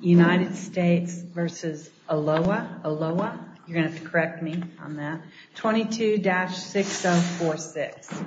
United States v. Oloa, Oloa, you're going to have to correct me on that, 22-6046.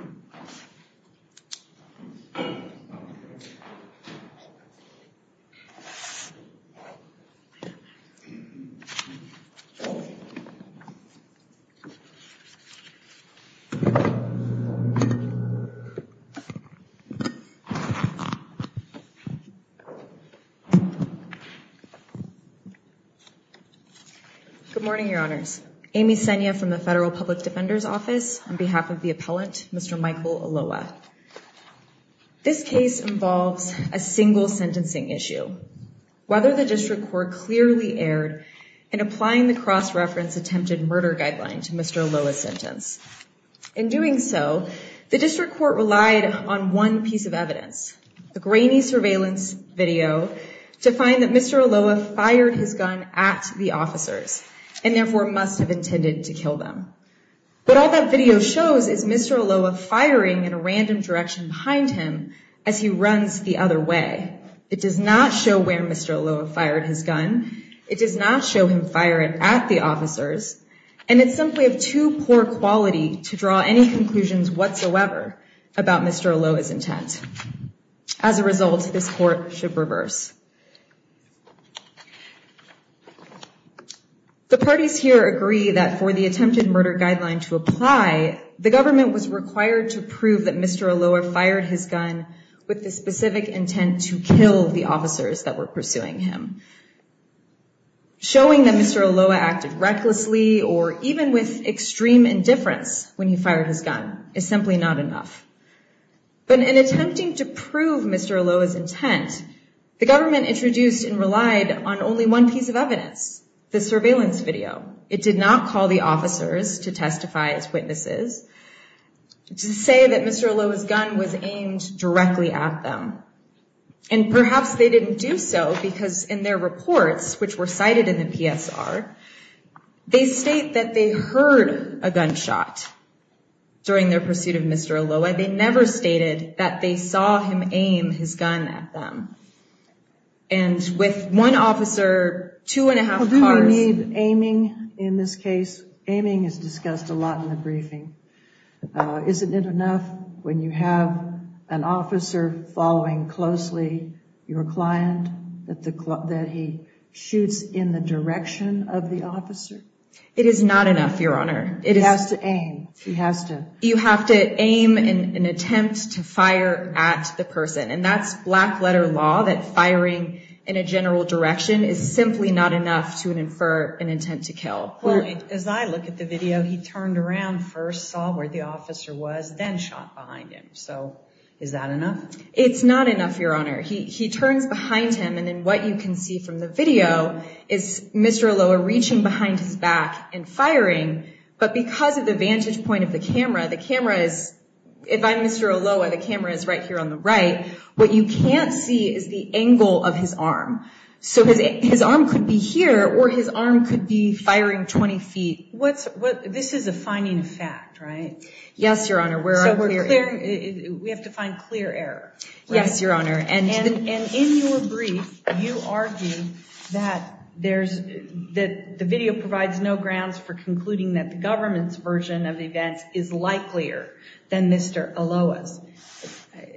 Good morning, Your Honors. Amy Senya from the Federal Public Defender's Office on behalf of the appellant, Mr. Michael Oloa. This case involves a single sentencing issue. Whether the district court clearly erred in applying the cross-reference attempted murder guideline to Mr. Oloa's sentence. In doing so, the district court relied on one piece of evidence, the guideline that Mr. Oloa fired his gun at the officers and therefore must have intended to kill them. But all that video shows is Mr. Oloa firing in a random direction behind him as he runs the other way. It does not show where Mr. Oloa fired his gun. It does not show him firing at the officers. And it's simply of too poor quality to draw any conclusions whatsoever about Mr. Oloa's intent. As a result, this court should reverse. The parties here agree that for the attempted murder guideline to apply, the government was required to prove that Mr. Oloa fired his gun with the specific intent to kill the officers that were pursuing him. Showing that Mr. Oloa acted recklessly or even with extreme indifference when he simply not enough. But in attempting to prove Mr. Oloa's intent, the government introduced and relied on only one piece of evidence, the surveillance video. It did not call the officers to testify as witnesses, to say that Mr. Oloa's gun was aimed directly at them. And perhaps they didn't do so because in their reports, which were cited in the PSR, they state that they heard a gunshot during their pursuit of Mr. Oloa. They never stated that they saw him aim his gun at them. And with one officer, two and a half cars... Do we need aiming in this case? Aiming is discussed a lot in the briefing. Isn't it enough when you have an officer following closely your client that he shoots in the direction of the officer? It is not enough, Your Honor. He has to aim. You have to aim in an attempt to fire at the person. And that's black letter law that firing in a general direction is simply not enough to infer an intent to kill. As I look at the video, he turned around, first saw where the officer was, then shot behind him. So is that enough? It's not enough, Your Honor. He turns behind him and then what you can see from the video is Mr. Oloa reaching behind his back and firing. But because of the vantage point of the camera, the camera is... If I'm Mr. Oloa, the camera is right here on the right. What you can't see is the angle of his arm. So his arm could be here or his arm could be firing 20 feet. This is a finding fact, right? Yes, Your Honor. We have to find clear error. Yes, Your Honor. And in your brief, you argue that the video provides no grounds for concluding that the government's version of the events is likelier than Mr. Oloa's.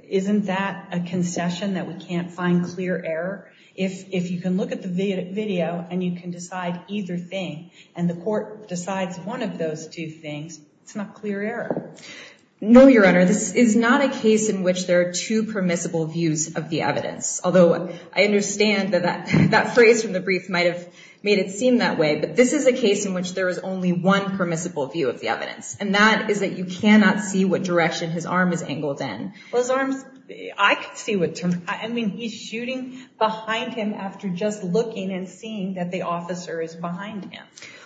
Isn't that a concession that we can't find clear error? If you can look at the video and you can decide either thing and the court decides one of those two things, it's not clear error. No, Your Honor. This is not a case in which there are two permissible views of the evidence. Although I understand that that phrase from the brief might have made it seem that way, but this is a case in which there is only one permissible view of the evidence and that is that you cannot see what direction his arm is angled in. Well, his arms... I could see what... I mean, he's shooting behind him after just looking and seeing that the officer is behind him.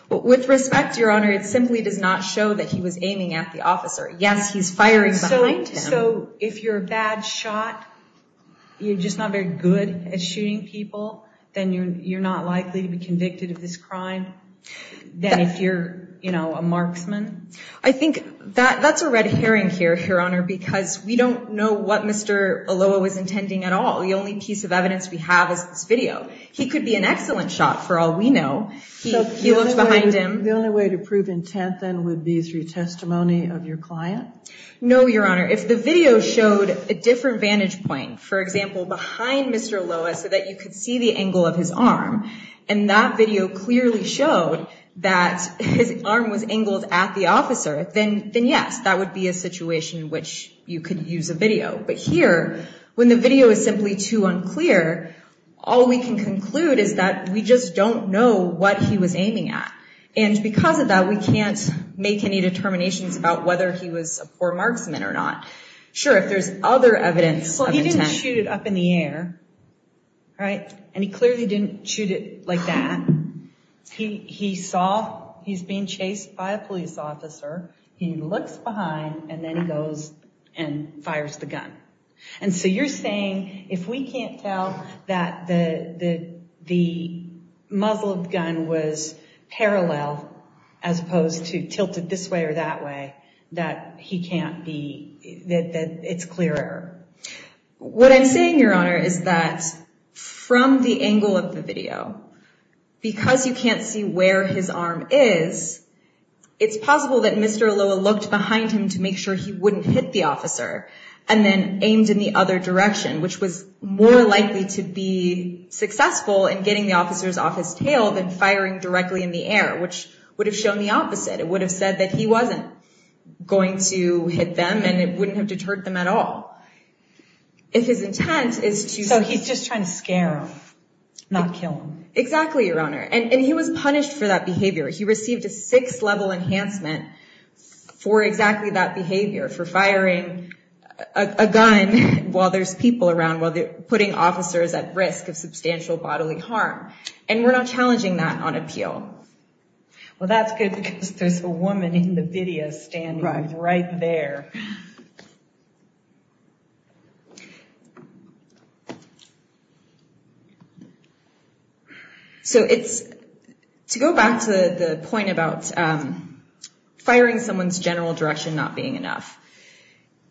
With respect, Your Honor, it simply does not show that he was aiming at the officer. Yes, he's firing behind him. So if you're a bad shot, you're just not very good at shooting people, then you're not likely to be convicted of this crime than if you're, you know, a marksman. I think that's a red herring here, Your Honor, because we don't know what Mr. Oloa was intending at all. The only piece of evidence we have is this video. He could be an excellent shot for all we know. He looked behind him. The only way to prove intent then would be through testimony of your client? No, Your Honor. If the video showed a different vantage point, for example, behind Mr. Oloa so that you could see the angle of his arm and that video clearly showed that his arm was angled at the officer, then yes, that would be a situation in which you could use a video. But here, when the video is simply too unclear, all we can conclude is that we just don't know what he was aiming at. And because of that, we can't make any determinations about whether he was a poor marksman or not. Sure, if there's other evidence of intent. Well, he didn't shoot it up in the air, right? And he clearly didn't shoot it like that. He saw he's being chased by a police officer. He looks behind and then he goes and fires the gun. And so you're saying if we can't tell that the muzzled gun was parallel as opposed to tilted this way or that way, that he can't be, that it's clear error? What I'm saying, Your Honor, is that from the angle of the video, because you can't see where his arm is, it's possible that Mr. Oloa looked behind him to make sure he wouldn't hit the officer and then aimed in the other direction, which was more likely to be successful in getting the officers off his tail than firing directly in the air, which would have shown the opposite. It would have said that he wasn't going to hit them and it wouldn't have deterred them at all. If his intent is to... So he's just trying to scare them, not kill them. Exactly, Your Honor. And he was punished for that behavior. He received a six level enhancement for exactly that behavior, for firing a gun while there's people around, while they're putting officers at risk of substantial bodily harm. And we're not challenging that on appeal. Well, that's good because there's a woman in the video standing right there. So it's... To go back to the point about firing someone's general direction not being enough,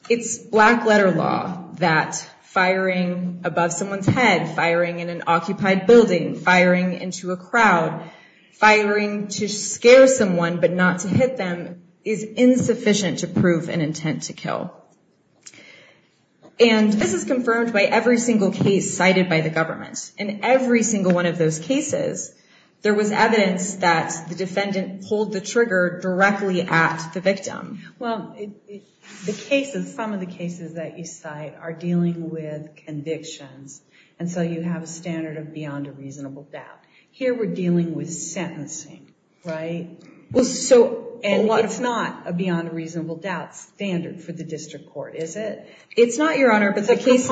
it's black letter law that firing above someone's head, firing in an occupied building, firing into a crowd, firing to scare someone but not to hit them is insufficient to prove an intent to kill. And this is confirmed by every single case cited by the government. In every single one of those cases, there was evidence that the defendant pulled the trigger directly at the victim. Well, the cases, some of the cases that you cite are dealing with convictions. And so you have a standard of beyond a reasonable doubt. Here we're dealing with sentencing, right? Well, so... And it's not a beyond a reasonable doubt standard for the district court, is it? It's not, Your Honor, but the cases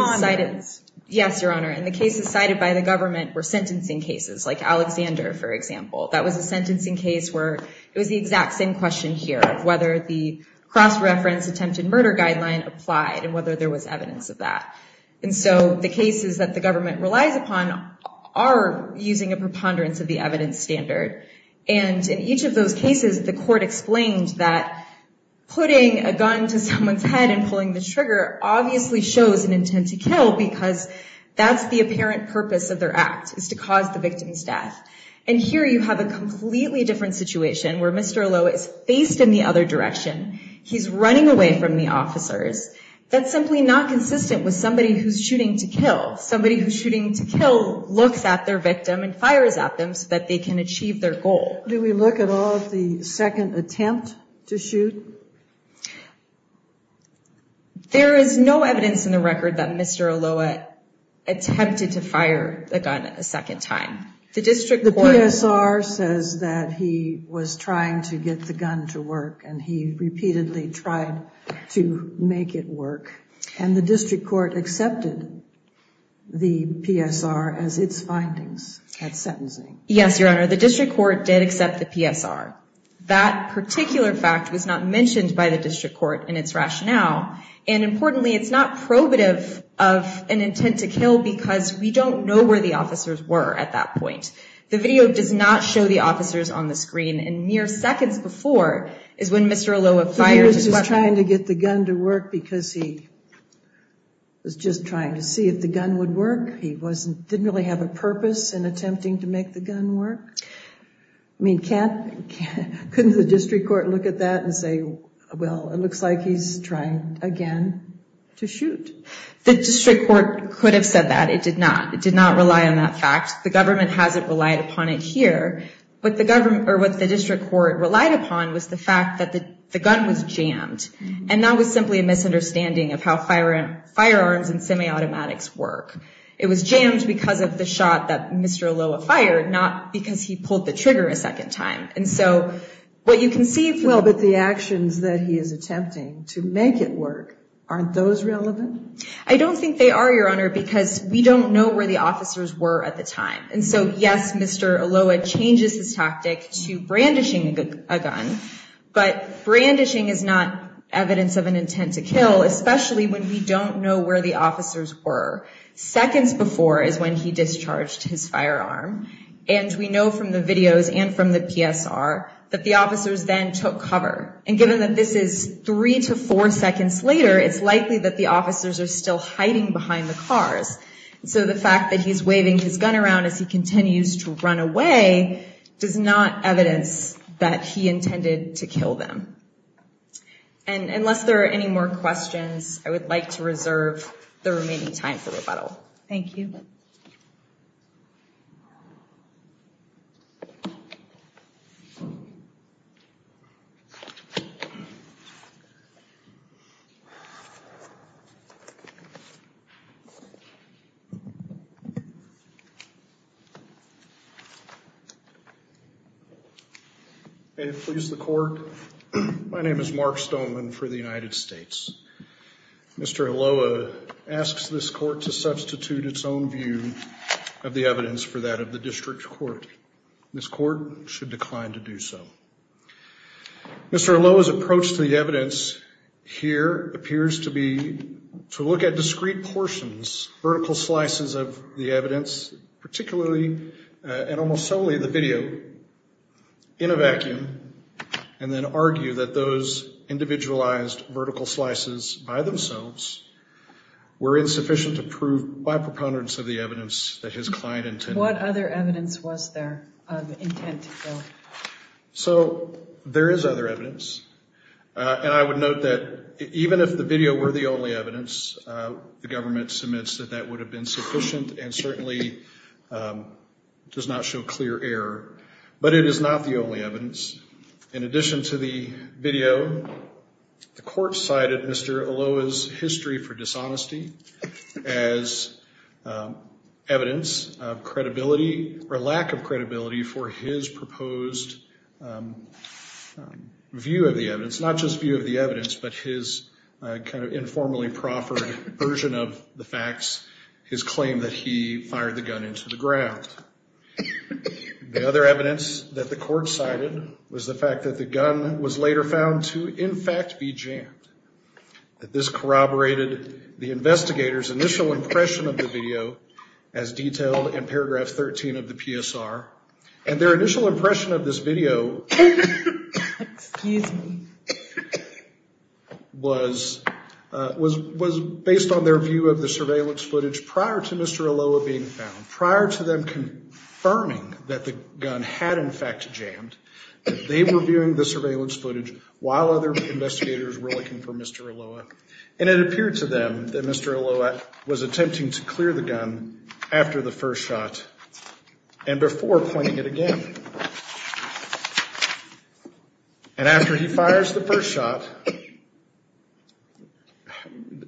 cited by the government were sentencing cases like Alexander, for example. That was a sentencing case where it was the exact same question here of whether the cross-reference attempted murder guideline applied and whether there was evidence of that. And so the cases that the government relies upon are using a preponderance of the evidence standard. And in each of those cases, the court explained that putting a gun to someone's head and pulling the trigger obviously shows an intent to kill because that's the apparent purpose of their act, is to cause the victim's death. And here you have a completely different situation where Mr. Alo is faced in the other direction. He's running away from the officers. That's simply not consistent with somebody who's shooting to kill. Somebody who's shooting to kill looks at their victim and fires at them so that they can achieve their goal. Do we look at all of the second attempt to shoot? There is no evidence in the record that Mr. Alo attempted to fire a gun a second time. The district court... The PSR says that he was trying to get the gun to work and he repeatedly tried to make it work. And the district court accepted the PSR as its findings at sentencing. Yes, Your Honor. The district court did accept the PSR. That particular fact was not mentioned by the district court in its rationale. And importantly, it's not probative of an intent to kill because we don't know where the officers were at that point. The video does not show the officers on the screen. And mere seconds before is when Mr. Alo fires his weapon. He was trying to get the gun to work because he was just trying to see if the gun would work. He didn't really have a purpose in attempting to make the gun work. I mean, couldn't the district court look at that and say, well, it looks like he's trying again to shoot. The district court could have said that. It did not. It did not rely on that fact. The government hasn't relied upon it here. What the district court relied upon was the fact that the gun was jammed. And that was simply a misunderstanding of how firearms and semi-automatics work. It was jammed because of the shot that Mr. Aloa fired, not because he pulled the trigger a second time. And so what you can see if you look at the actions that he is attempting to make it work, aren't those relevant? I don't think they are, Your Honor, because we don't know where the officers were at the time. And so, yes, Mr. Aloa changes his tactic to brandishing a gun. But brandishing is not evidence of an intent to kill, especially when we don't know where the officers were. Seconds before is when he discharged his firearm. And we know from the videos and from the PSR that the officers then took cover. And given that this is three to four seconds later, it's likely that the officers are still hiding behind the cars. So the fact that he's waving his gun around as he continues to run away does not evidence that he intended to kill them. And unless there are any more questions, I would like to reserve the remaining time for rebuttal. Thank you. May it please the Court. My name is Mark Stoneman for the United States. Mr. Aloa asks this court to substitute its own view of the evidence for that of the district court. This court should decline to do so. Mr. Aloa's approach to the evidence here appears to be to look at discrete portions, vertical slices of the evidence, particularly and almost solely the video in a vacuum, and then argue that those individualized vertical slices by themselves were insufficient to prove by preponderance of the evidence that his client intended. What other evidence was there of intent to kill? So there is other evidence. And I would note that even if the video were the only evidence, the government submits that that would have been sufficient and certainly does not show clear error. But it is not the only evidence. In addition to the video, the court cited Mr. Aloa's history for dishonesty as evidence of credibility or lack of credibility for his proposed view of the evidence, not just view of the evidence, but his kind of informally proffered version of the facts, his claim that he fired the gun into the ground. The other evidence that the court cited was the fact that the gun was later found to in fact be jammed, that this corroborated the investigator's initial impression of the video as detailed in paragraph 13 of the PSR. And this was based on their view of the surveillance footage prior to Mr. Aloa being found, prior to them confirming that the gun had in fact jammed, they were viewing the surveillance footage while other investigators were looking for Mr. Aloa. And it appeared to them that Mr. Aloa was attempting to clear the gun after the first shot and before pointing it again. And after he fires the first shot,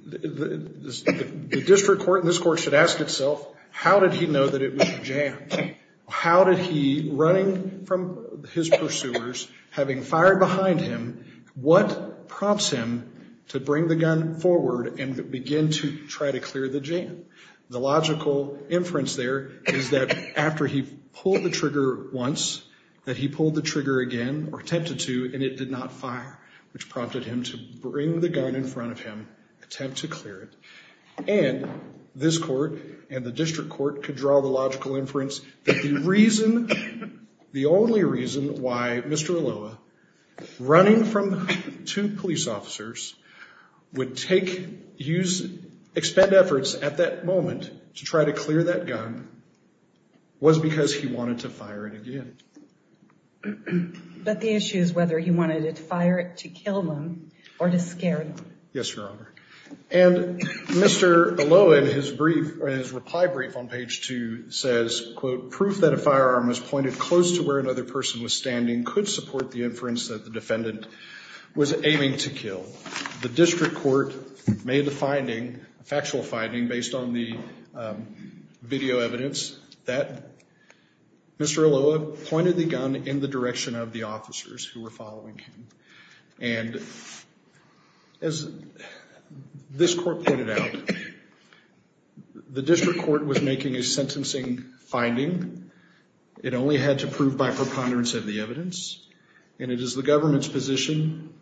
the district court and this court should ask itself, how did he know that it was jammed? How did he, running from his pursuers, having fired behind him, what prompts him to bring the gun forward and begin to try to clear the jam? The logical inference there is that after he fired, which prompted him to bring the gun in front of him, attempt to clear it, and this court and the district court could draw the logical inference that the reason, the only reason why Mr. Aloa, running from two police officers, would take, use, expend efforts at that moment to try to clear that gun was because he wanted to fire it again. But the issue is whether he wanted to fire it to kill them or to scare them. Yes, Your Honor. And Mr. Aloa, in his brief, in his reply brief on page 2, says, quote, proof that a firearm was pointed close to where another person was standing could support the inference that the defendant was aiming to kill. The district court made the finding, factual finding, based on the video evidence, that Mr. Aloa pointed the gun in the direction of the officers who were following him. And as this court pointed out, the district court was making a sentencing finding. It only had to prove by preponderance of the evidence. And it is the government's position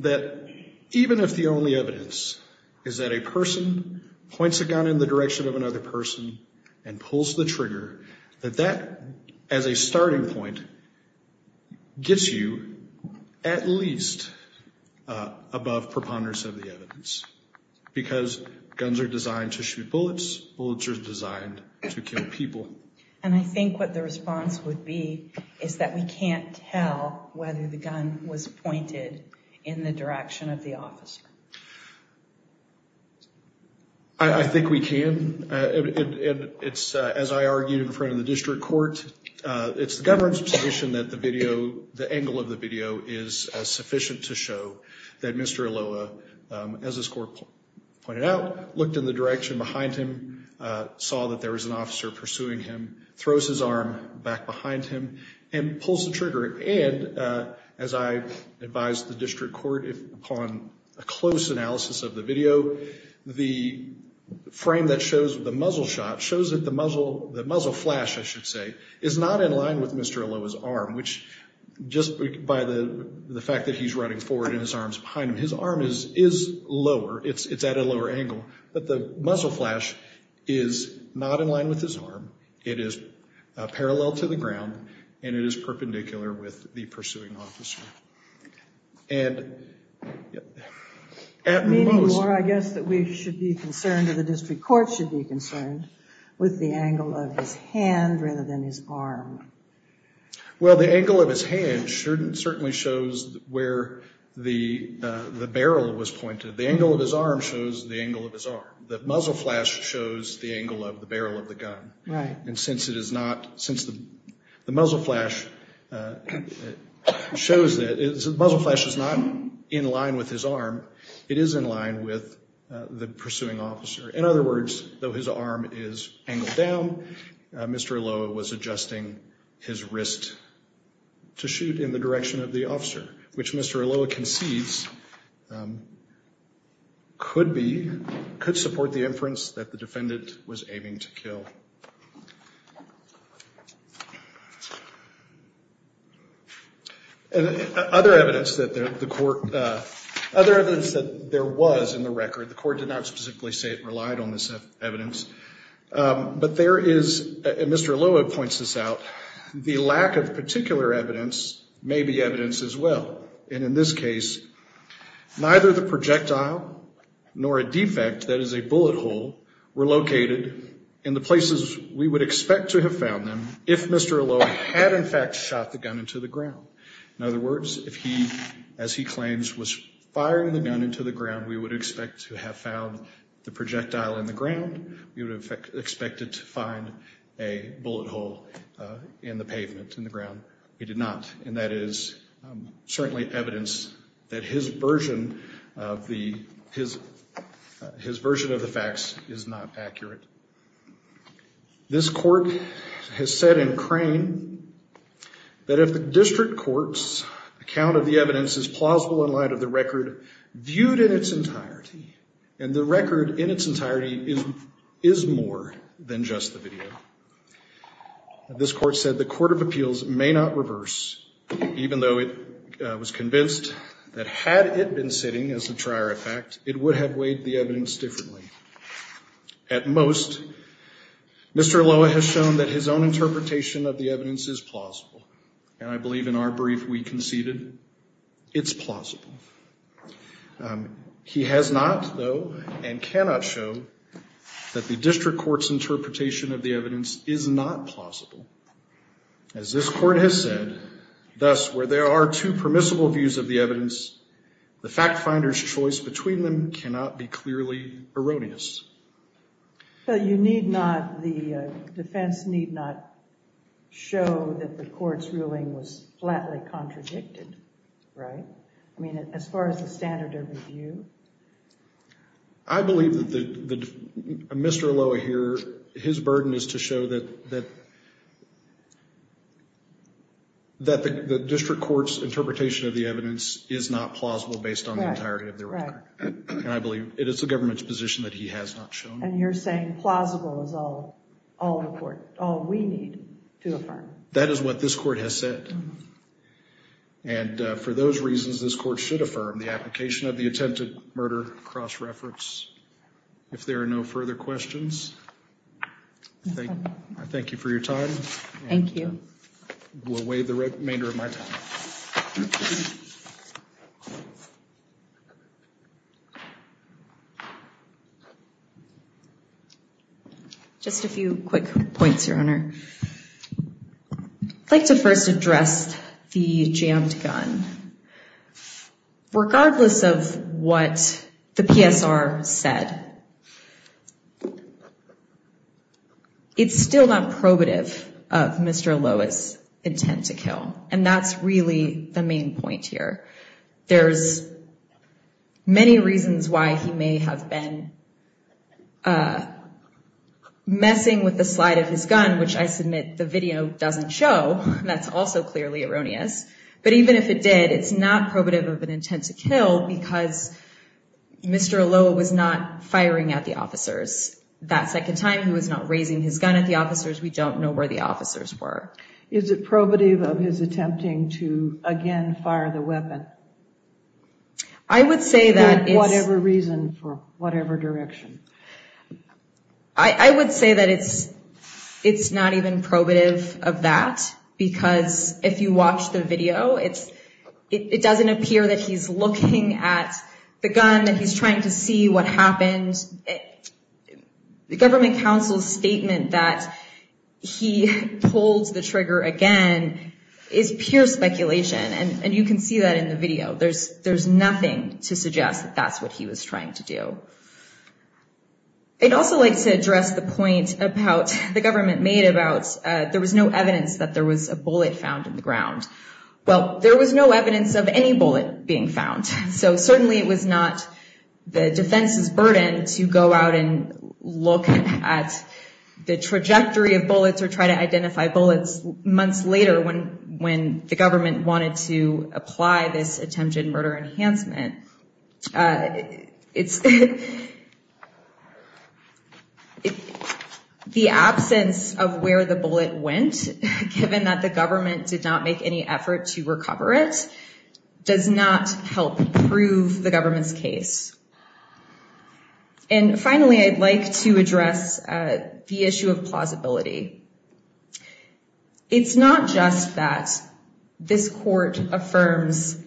that even if the only evidence is that a person points a gun in the direction of another person and pulls the trigger, that that, as a starting point, gets you at least above preponderance of the evidence. Because guns are designed to shoot bullets. Bullets are designed to kill people. And I think what the response would be is that we can't tell whether the gun was pointed in the direction of the officer. And it's, as I argued in front of the district court, it's the government's position that the video, the angle of the video is sufficient to show that Mr. Aloa, as this court pointed out, looked in the direction behind him, saw that there was an officer pursuing him, throws his arm back behind him, and pulls the trigger. And as I advised the district court upon a close analysis of the video, the frame that shows the muzzle shot shows that the muzzle flash, I should say, is not in line with Mr. Aloa's arm, which just by the fact that he's running forward and his arm's behind him. His arm is lower, it's at a lower angle, but the muzzle flash is not in line with his arm. It is parallel to the ground and it is perpendicular with the pursuing officer. And at most... I guess that we should be concerned, or the district court should be concerned, with the angle of his hand rather than his arm. Well, the angle of his hand certainly shows where the barrel was pointed. The angle of his arm shows the angle of his arm. The muzzle flash shows the angle of the barrel of the gun. And since it is not, since the muzzle flash is not in line with his arm, the angle of his hand shows that the muzzle flash is not in line with his arm. It is in line with the pursuing officer. In other words, though his arm is angled down, Mr. Aloa was adjusting his wrist to shoot in the direction of the officer, which Mr. Aloa concedes could be, could support the inference that the defendant was aiming to kill. And other evidence that the court, other evidence that there was in the record, the court did not specifically say it relied on this evidence, but there is, Mr. Aloa points this out, the lack of particular evidence may be evidence as well. And in this case, neither the projectile nor a defect, that is a bullet hole, were located in the places we would expect to have found them if Mr. Aloa had in fact shot the gun into the ground. In other words, if he, as he claims, was firing the gun into the ground, we would expect to have found the projectile in the ground. We would have expected to find a bullet hole in the pavement, in the ground. We did not. And that is certainly evidence that his version of the, his version of the facts is not accurate. This court has said in Crane that Mr. Aloa has shown that if the district court's account of the evidence is plausible in light of the record viewed in its entirety, and the record in its entirety is more than just the video, this court said the court of appeals may not reverse, even though it was convinced that had it been sitting as a trier of fact, it would have weighed the evidence differently. At most, Mr. Aloa has shown that his own interpretation of the evidence is plausible. And I believe in our brief we conceded it's plausible. He has not, though, and cannot show that the district court's interpretation of the evidence is not plausible. As this court has said, thus, where there are two permissible views of the evidence, the fact finder's choice between them cannot be clearly erroneous. But you need not, the defense need not show that the court's ruling was flatly contradicted, right? I mean, as far as the standard of review? I believe that Mr. Aloa here, his burden is to show that, that the district court's interpretation of the evidence is not shown. And you're saying plausible is all we need to affirm. That is what this court has said. And for those reasons, this court should affirm the application of the attempted murder cross-reference. If there are no further questions, I thank you for your time. Thank you. We'll waive the remainder of my time. Just a few quick points, Your Honor. I'd like to first address the jammed gun. Regardless of what the PSR said, it's still not probative of Mr. Aloa's intent to kill. And that's really the main point here. There's many reasons why he may have been messing with the slide of his gun, which I submit the video doesn't show. That's also clearly erroneous. But even if it did, it's not probative of an intent to kill because Mr. Aloa was not firing at the officers that second time. He was not raising his gun at the officers. We don't know where the officers were. Is it probative of his attempting to again fire the weapon? I would say that it's not even probative of that. Because if you watch the video, it doesn't appear that he's looking at the gun and he's trying to see what happened. The government counsel's statement that he pulled the trigger again is pure speculation. And you can see that in the video. That's what he was trying to do. I'd also like to address the point about the government made about there was no evidence that there was a bullet found in the ground. Well, there was no evidence of any bullet being found. So certainly it was not the defense's burden to go out and look at the trajectory of bullets or try to identify bullets months later when the government wanted to apply this attempted murder enhancement. The absence of where the bullet went, given that the government did not make any effort to recover it, does not help prove the government's case. And finally, I'd like to address the issue of plausibility. It's not just that this court affirms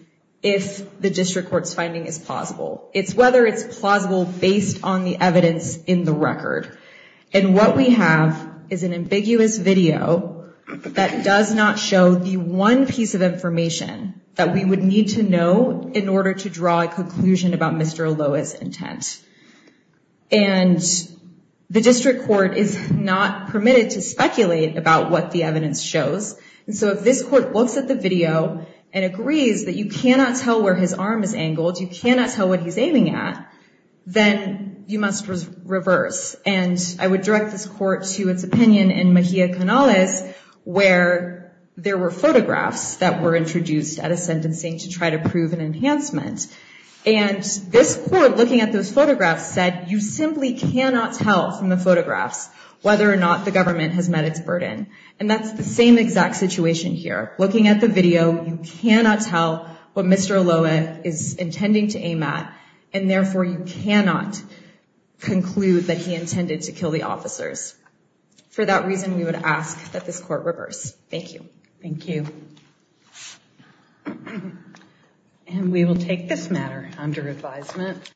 if the district court's finding is plausible. It's whether it's plausible based on the evidence in the record. And what we have is an ambiguous video that does not show the one piece of information that we would need to know in order to draw a conclusion about Mr. Aloa's intent. And the district court is not permitted to speculate about what the evidence shows. So if this court looks at the video and agrees that you cannot tell where his arm is angled, you cannot tell what he's aiming at, then you must reverse. And I would direct this court to its opinion in Mejia Canales where there were photographs that were introduced at a sentencing to try to prove an enhancement. And this court, looking at those photographs, said you simply cannot tell from the situation here. Looking at the video, you cannot tell what Mr. Aloa is intending to aim at. And therefore, you cannot conclude that he intended to kill the officers. For that reason, we would ask that this court reverse. Thank you. Thank you. And we will take this matter under advisement.